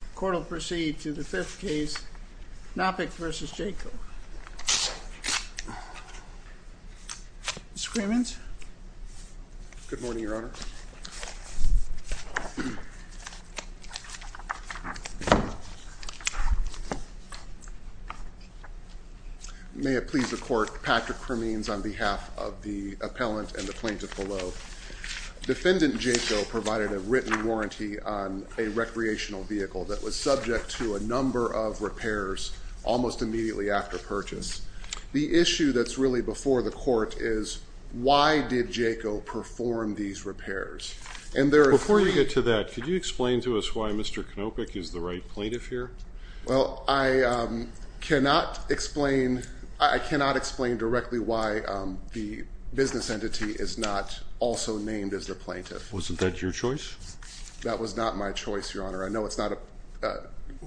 The court will proceed to the fifth case, Knopick v. Jayco. Mr. Cremins? Good morning, Your Honor. May it please the court, Patrick Cremins on behalf of the appellant and the plaintiff below. Defendant Jayco provided a written warranty on a recreational vehicle that was subject to a number of repairs almost immediately after purchase. The issue that's really before the court is why did Jayco perform these repairs? Before you get to that, could you explain to us why Mr. Knopick is the right plaintiff here? Well, I cannot explain directly why the business entity is not also named as the plaintiff. Wasn't that your choice? That was not my choice, Your Honor. I know it's not a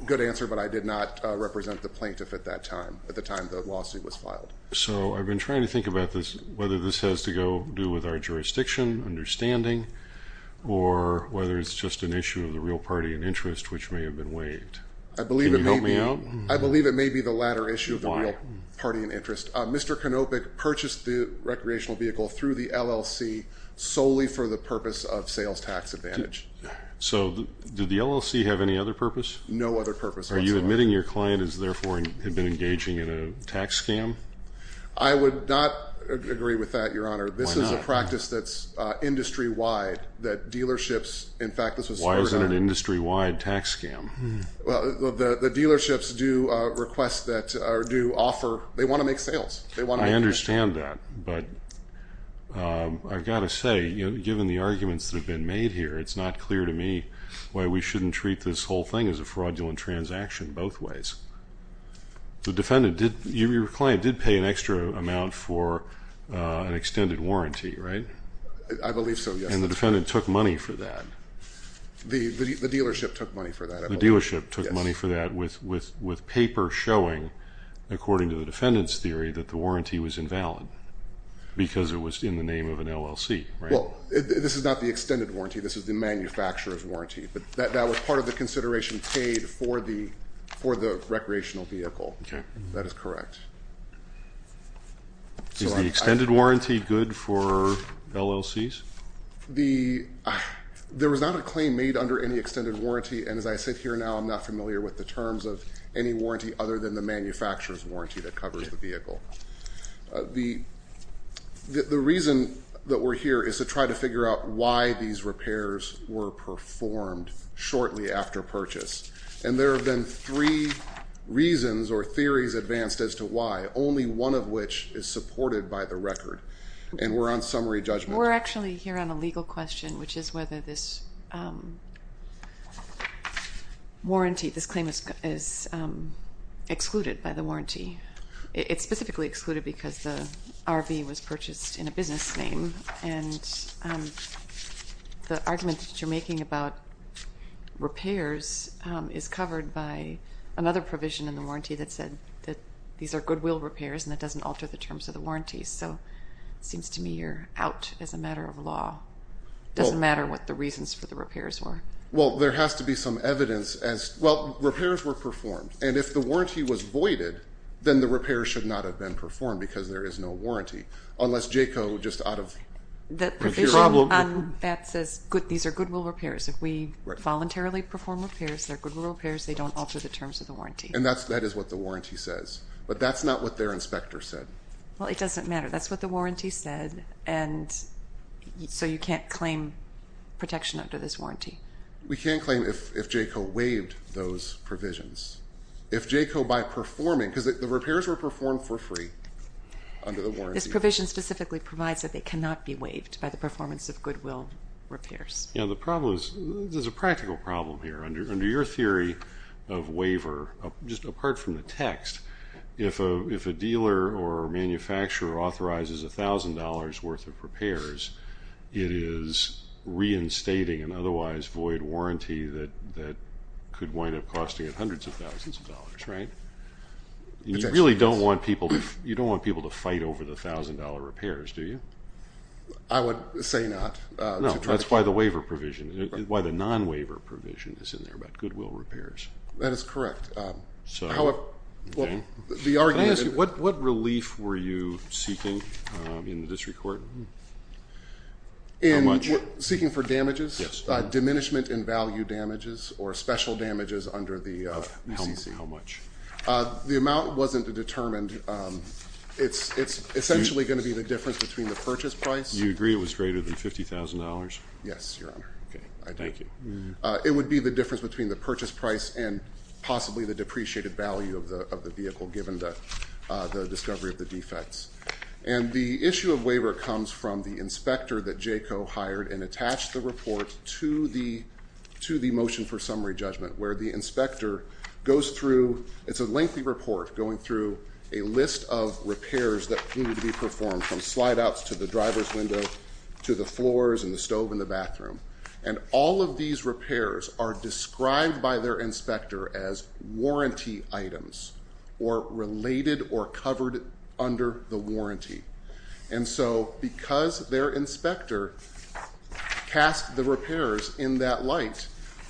good answer, but I did not represent the plaintiff at that time, at the time the lawsuit was filed. So I've been trying to think about this, whether this has to go do with our jurisdiction understanding or whether it's just an issue of the real party and interest, which may have been waived. Can you help me out? I believe it may be the latter issue of the real party and interest. Mr. Knopick purchased the recreational vehicle through the LLC solely for the purpose of sales tax advantage. So did the LLC have any other purpose? No other purpose whatsoever. Are you admitting your client has therefore been engaging in a tax scam? I would not agree with that, Your Honor. This is a practice that's industry-wide that dealerships, in fact, this was- Why is it an industry-wide tax scam? Well, the dealerships do request that or do offer, they want to make sales. They want- I understand that, but I've got to say, given the arguments that have been made here, it's not clear to me why we shouldn't treat this whole thing as a fraudulent transaction both ways. The defendant did, your client did pay an extra amount for an extended warranty, right? I believe so, yes. And the defendant took money for that. The dealership took money for that. The dealership took money for that with paper showing, according to the defendant's theory, that the warranty was invalid because it was in the name of an LLC, right? Well, this is not the extended warranty. This is the manufacturer's warranty, but that was part of the consideration paid for the recreational vehicle. Okay. That is correct. Is the extended warranty good for LLCs? The- There was not a claim made under any extended warranty, and as I sit here now, I'm not familiar with the terms of any warranty other than the manufacturer's warranty that covers the vehicle. The reason that we're here is to try to figure out why these repairs were performed shortly after purchase, and there have been three reasons or theories advanced as to why, only one of which is supported by the record, and we're on summary judgment. We're actually here on a legal question, which is whether this warranty, this claim is excluded by the warranty. It's specifically excluded because the RV was purchased in a business name, and the argument that you're making about repairs is covered by another provision in the warranty that said that these are goodwill repairs and that doesn't alter the terms of the warranty, so it seems to me you're out as a matter of law. It doesn't matter what the reasons for the repairs were. Well, there has to be some evidence as, well, repairs were performed, and if the warranty was voided, then the repair should not have been performed because there is no warranty, unless Jayco just out of- The provision on that says these are goodwill repairs. If we voluntarily perform repairs, they're goodwill repairs. They don't alter the terms of the warranty. And that is what the warranty says, but that's not what their inspector said. Well, it doesn't matter. That's what the warranty said, and so you can't claim protection under this warranty. We can't claim if Jayco waived those provisions. If Jayco, by performing, because the repairs were performed for free under the warranty- This provision specifically provides that they cannot be waived by the performance of goodwill repairs. Yeah, the problem is, there's a practical problem here. Under your theory of waiver, just apart from the text, if a dealer or manufacturer authorizes $1,000 worth of repairs, it is reinstating an otherwise void warranty that could wind up costing it hundreds of thousands of dollars, right? You really don't want people to fight over the $1,000 repairs, do you? I would say not. No, that's why the waiver provision, why the non-waiver provision is there about goodwill repairs. That is correct. Can I ask you, what relief were you seeking in the district court? In seeking for damages? Yes. Diminishment in value damages or special damages under the SEC? How much? The amount wasn't determined. It's essentially going to be the difference between the purchase price- You agree it was greater than $50,000? Yes, Your Honor. Okay, thank you. It would be the difference between the purchase price and possibly the depreciated value of the vehicle given the discovery of the defects. And the issue of waiver comes from the inspector that JACO hired and attached the report to the motion for summary judgment where the inspector goes through, it's a lengthy report going through a list of repairs that needed to be performed from slide outs to the driver's window to the floors and the stove and the bathroom. And all of these repairs are described by their inspector as warranty items or related or covered under the warranty. And so because their inspector cast the repairs in that light,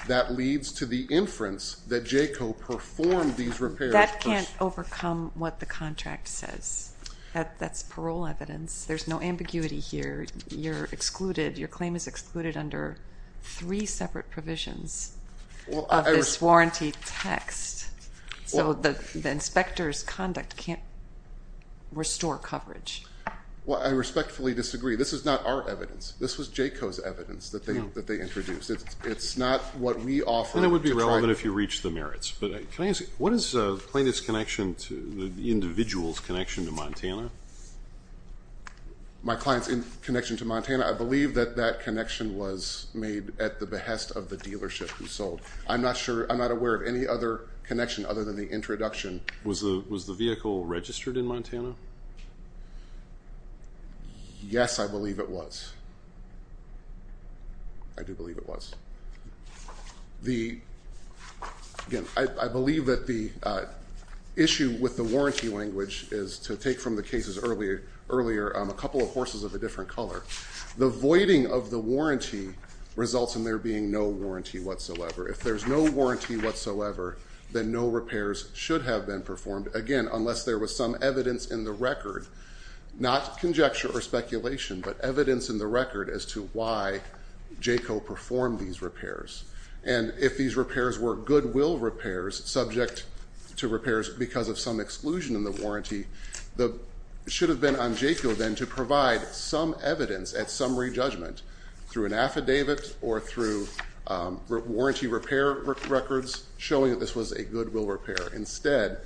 that leads to the inference that JACO performed these repairs- That can't overcome what the contract says. That's parole evidence. There's no ambiguity here. You're excluded. Your claim is excluded under three separate provisions of this warranty text. So the inspector's conduct can't restore coverage. Well, I respectfully disagree. This is not our evidence. This was JACO's evidence that they introduced. It's not what we offer. And it would be relevant if you reach the merits. But can I ask, what is plaintiff's connection to the client's connection to Montana? I believe that that connection was made at the behest of the dealership who sold. I'm not sure, I'm not aware of any other connection other than the introduction. Was the vehicle registered in Montana? Yes, I believe it was. I do believe it was. The, again, I believe that the issue with the warranty language is to take from the cases earlier, a couple of horses of a different color. The voiding of the warranty results in there being no warranty whatsoever. If there's no warranty whatsoever, then no repairs should have been performed. Again, unless there was some evidence in the record, not conjecture or speculation, but evidence in the record as to why JACO performed these repairs. And if these repairs were goodwill repairs subject to repairs because of some exclusion in the warranty, the, it should have been on JACO then to provide some evidence at summary judgment through an affidavit or through warranty repair records showing that this was a goodwill repair. Instead,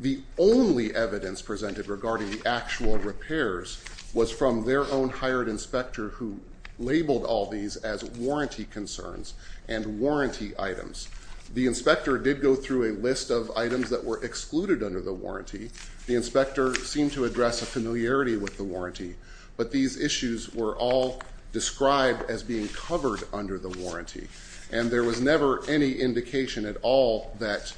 the only evidence presented regarding the actual repairs was from their own hired inspector who labeled all these as warranty concerns and warranty items. The inspector did go through a seemed to address a familiarity with the warranty, but these issues were all described as being covered under the warranty. And there was never any indication at all that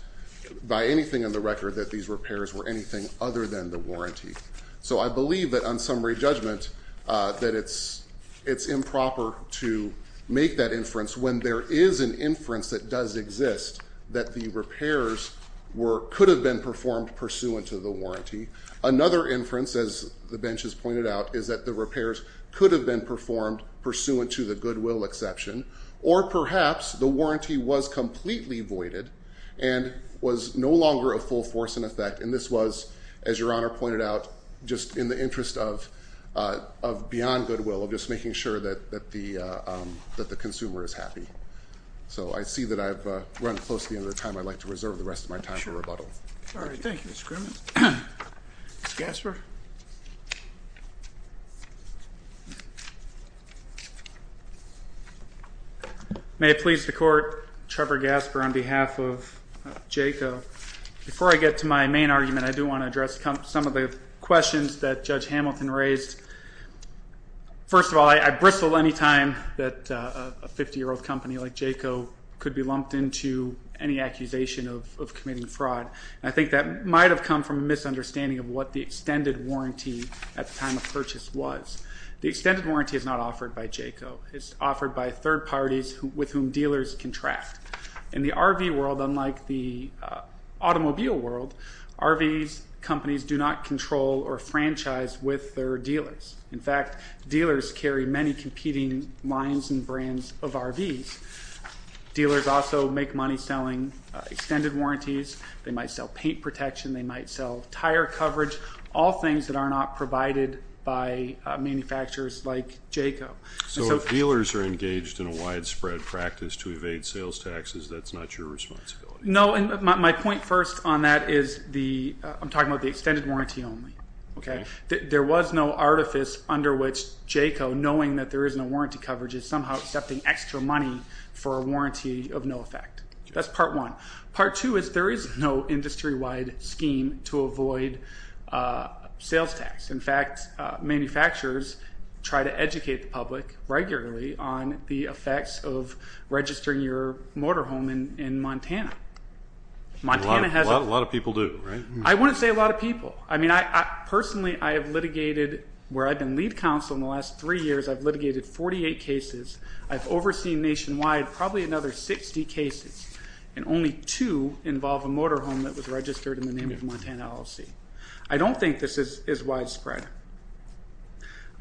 by anything in the record that these repairs were anything other than the warranty. So I believe that on summary judgment that it's improper to make that inference when there is an inference that does exist that the repairs were, could have been performed pursuant to the warranty. Another inference, as the benches pointed out, is that the repairs could have been performed pursuant to the goodwill exception, or perhaps the warranty was completely voided and was no longer a full force in effect. And this was, as your honor pointed out, just in the interest of beyond goodwill, of just making sure that the consumer is happy. So I see that I've run close to the time. I'd like to reserve the rest of my time for rebuttal. All right. Thank you, Mr. Grimmett. Mr. Gasper. May it please the court, Trevor Gasper on behalf of JACO. Before I get to my main argument, I do want to address some of the questions that Judge Hamilton raised. First of all, I bristle any time that a 50-year-old company like JACO could be lumped into any accusation of committing fraud. I think that might have come from a misunderstanding of what the extended warranty at the time of purchase was. The extended warranty is not offered by JACO. It's offered by third parties with whom dealers contract. In the RV world, unlike the automobile world, RVs, companies do not control or franchise with their dealers. In fact, dealers carry many competing lines and brands of RVs. Dealers also make money selling extended warranties. They might sell paint protection. They might sell tire coverage, all things that are not provided by manufacturers like JACO. So if dealers are engaged in a widespread practice to evade sales taxes, that's not your responsibility. My point first on that is I'm talking about the extended warranty only. There was no artifice under which JACO, knowing that there is no warranty coverage, is somehow accepting extra money for a warranty of no effect. That's part one. Part two is there is no industry-wide scheme to avoid sales tax. In fact, manufacturers try to educate the public regularly on the effects of registering your motorhome in Montana. A lot of people do, right? I wouldn't say a lot of people. I mean, personally, I have litigated where I've been lead counsel in the last three years. I've litigated 48 cases. I've overseen nationwide probably another 60 cases, and only two involve a motorhome that was registered in the name of Montana LLC. I don't think this is widespread.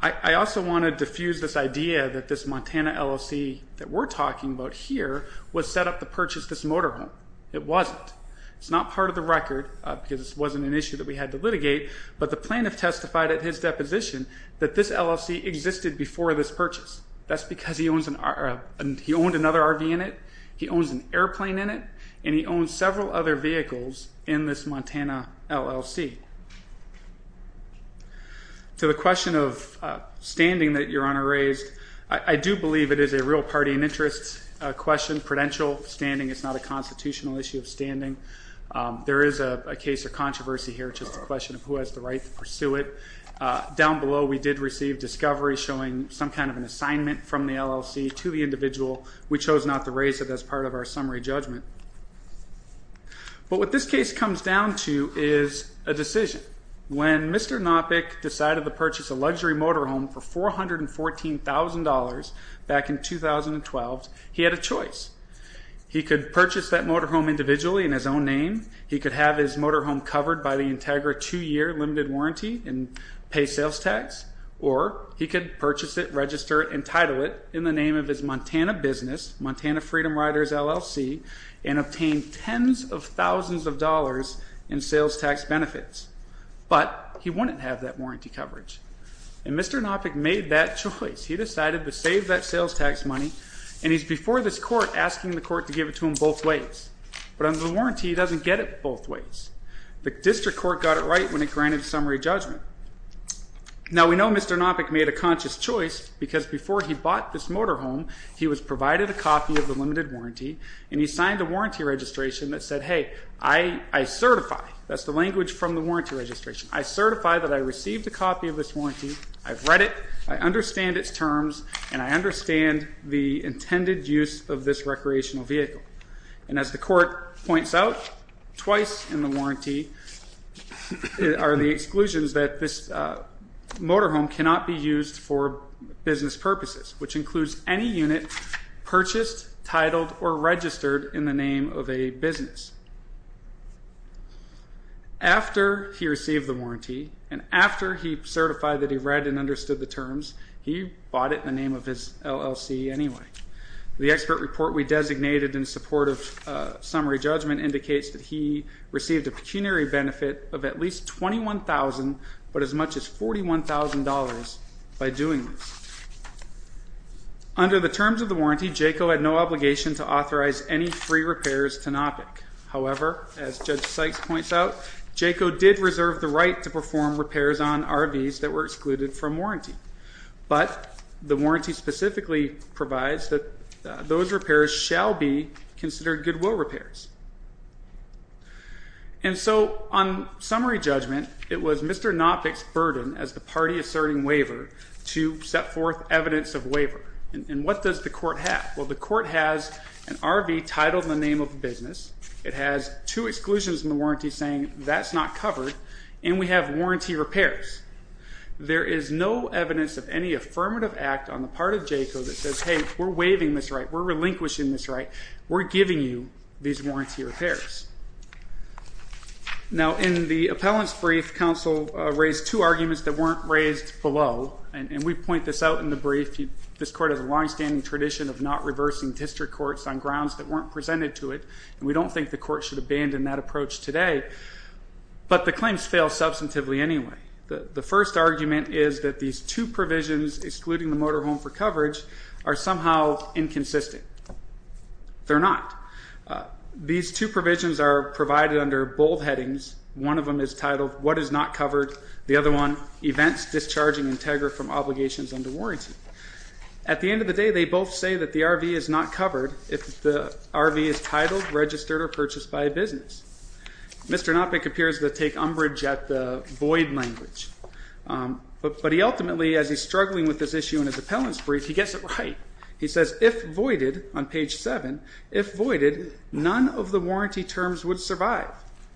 I also want to diffuse this idea that this Montana LLC that we're talking about here was set up to purchase this motorhome. It wasn't. It's not part of the record because it wasn't an issue that we had to litigate, but the plaintiff testified at his deposition that this LLC existed before this purchase. That's because he owned another RV in it, he owns an airplane in it, and he owns several other vehicles in this Montana LLC. To the question of standing that Your Honor raised, I do believe it is a real party and interest question. Prudential standing is not a constitutional issue of standing. There is a case of controversy here, just a question of who has the right to pursue it. Down below, we did receive discovery showing some kind of an assignment from the LLC to the But what this case comes down to is a decision. When Mr. Nopik decided to purchase a luxury motorhome for $414,000 back in 2012, he had a choice. He could purchase that motorhome individually in his own name, he could have his motorhome covered by the Integra two-year limited warranty and pay sales tax, or he could purchase it, register it, and title it in the name of his Montana business, Montana Freedom Riders LLC, and obtain tens of thousands of dollars in sales tax benefits. But he wouldn't have that warranty coverage. And Mr. Nopik made that choice. He decided to save that sales tax money, and he's before this court asking the court to give it to him both ways. But under the warranty, he doesn't get it both ways. The district court got it right when it granted summary judgment. Now we know Mr. Nopik made a conscious choice because before he he was provided a copy of the limited warranty, and he signed a warranty registration that said, hey, I certify, that's the language from the warranty registration, I certify that I received a copy of this warranty, I've read it, I understand its terms, and I understand the intended use of this recreational vehicle. And as the court points out, twice in the warranty are the exclusions that this motorhome cannot be used for business purposes, which includes any unit purchased, titled, or registered in the name of a business. After he received the warranty, and after he certified that he read and understood the terms, he bought it in the name of his LLC anyway. The expert report we designated in support of summary judgment indicates that he received a pecuniary benefit of at least $21,000, but as much as $41,000 by doing this. Under the terms of the warranty, JACO had no obligation to authorize any free repairs to Nopik. However, as Judge Sykes points out, JACO did reserve the right to perform repairs on RVs that were excluded from warranty. But the warranty specifically provides that those repairs shall be considered goodwill repairs. And so on summary judgment, it was Mr. Nopik's burden as the party asserting waiver to set forth evidence of waiver. And what does the court have? Well, the court has an RV titled in the name of a business, it has two exclusions in the warranty saying that's not covered, and we have warranty repairs. There is no evidence of any affirmative act on the part of JACO that says, hey, we're waiving this right, we're relinquishing this right, we're giving you these warranty repairs. Now, in the appellant's brief, counsel raised two arguments that weren't raised below, and we point this out in the brief. This court has a longstanding tradition of not reversing district courts on grounds that weren't presented to it, and we don't think the court should abandon that approach today. But the claims fail substantively anyway. The first argument is that these two provisions, excluding the motorhome for coverage, are somehow inconsistent. They're not. They're not These two provisions are provided under both headings. One of them is titled what is not covered, the other one, events discharging Integra from obligations under warranty. At the end of the day, they both say that the RV is not covered if the RV is titled, registered, or purchased by a business. Mr. Nopik appears to take umbrage at the void language, but he ultimately, as he's struggling with this issue in his appellant's brief, he gets it right. He says, if voided, on page seven, if voided, none of the warranty terms would survive.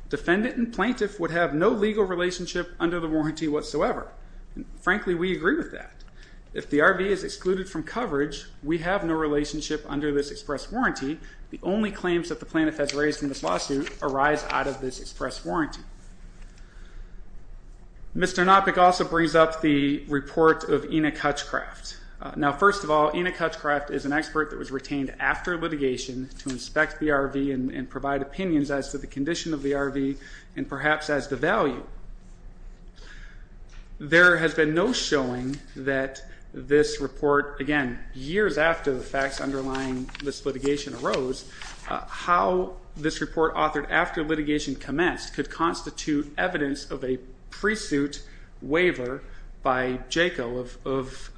Defendant and plaintiff would have no legal relationship under the warranty whatsoever. Frankly, we agree with that. If the RV is excluded from coverage, we have no relationship under this express warranty. The only claims that the plaintiff has raised in this lawsuit arise out of this express warranty. Mr. Nopik also brings up the report of Enoch Hutchcraft. Now, first of all, Enoch Hutchcraft is an expert that was retained after litigation to inspect the RV and provide opinions as to the condition of the RV and perhaps as to value. There has been no showing that this report, again, years after the facts underlying this litigation arose, how this report authored after litigation commenced could constitute evidence of a pre-suit waiver by JACO of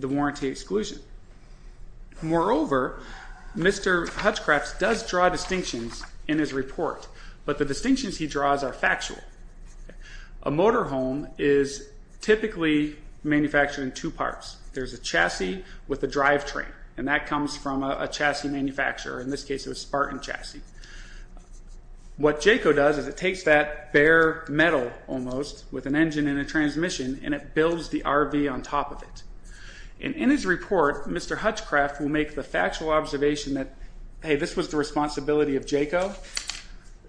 the warranty exclusion. Moreover, Mr. Hutchcraft does draw distinctions in his report, but the distinctions he draws are factual. A motorhome is typically manufactured in two parts. There's a chassis with a drivetrain, and that comes from a chassis manufacturer. In this case, it was Spartan chassis. What JACO does is it takes that bare metal, almost, with an engine and a transmission, and it builds the RV on top of it. In his report, Mr. Hutchcraft will make the factual observation that, hey, this was the responsibility of JACO.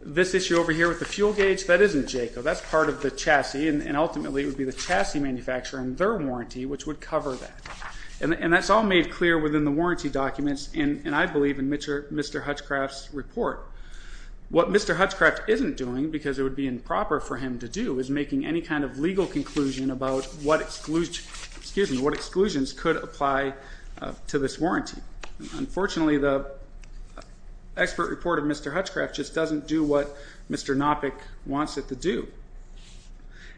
This issue over here with the fuel gauge, that isn't JACO. That's part of the chassis. Ultimately, it would be the chassis manufacturer and their warranty which would cover that. That's all made clear within the warranty documents, and I believe in Mr. Hutchcraft's report. What Mr. Hutchcraft isn't doing, because it would be improper for him to do, is making any kind of legal conclusion about what exclusions could apply to this warranty. Unfortunately, the expert report of Mr. Hutchcraft just doesn't do what Mr. Nopik wants it to do.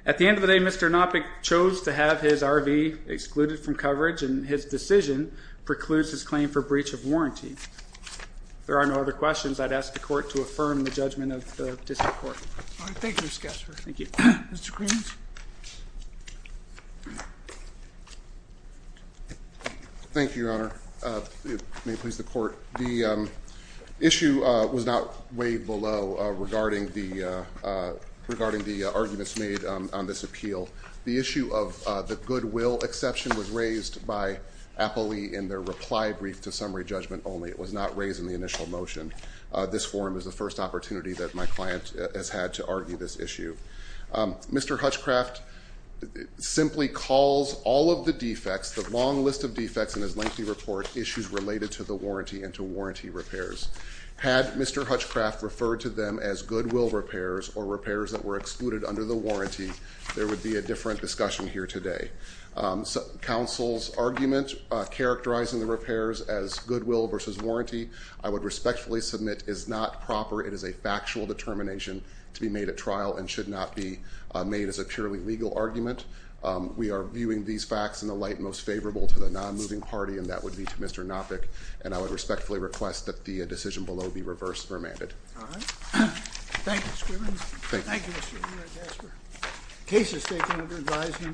At the end of the day, Mr. Nopik chose to have his RV excluded from coverage, and his decision precludes his claim for breach of warranty. If there are no other questions, I'd ask the court to affirm the judgment of the district court. All right. Thank you, Mr. Kessler. Thank you. Mr. Green. Thank you, Your Honor. May it please the court. The issue was not weighed below regarding the arguments made on this appeal. The issue of the goodwill exception was raised by Appley in their reply brief to summary judgment only. It was not raised in the initial motion. This forum is the first opportunity that my client has had to argue this issue. Mr. Hutchcraft simply calls all of the defects, the long list of defects in his lengthy report, issues related to the warranty and to warranty repairs. Had Mr. Hutchcraft referred to them as goodwill repairs or repairs that were excluded under the warranty, there would be a different discussion here today. Counsel's argument characterizing the repairs as goodwill versus warranty, I would respectfully submit, is not proper. It is a factual determination to be made at trial and should not be made as a purely legal argument. We are viewing these facts in the light most favorable to the non-moving party, and that would be to Mr. Nopik, and I would respectfully request that the decision below be reversed for amended. All right. Thank you, Mr. Green. Thank you, Mr. Kessler. The case is taken under advisement.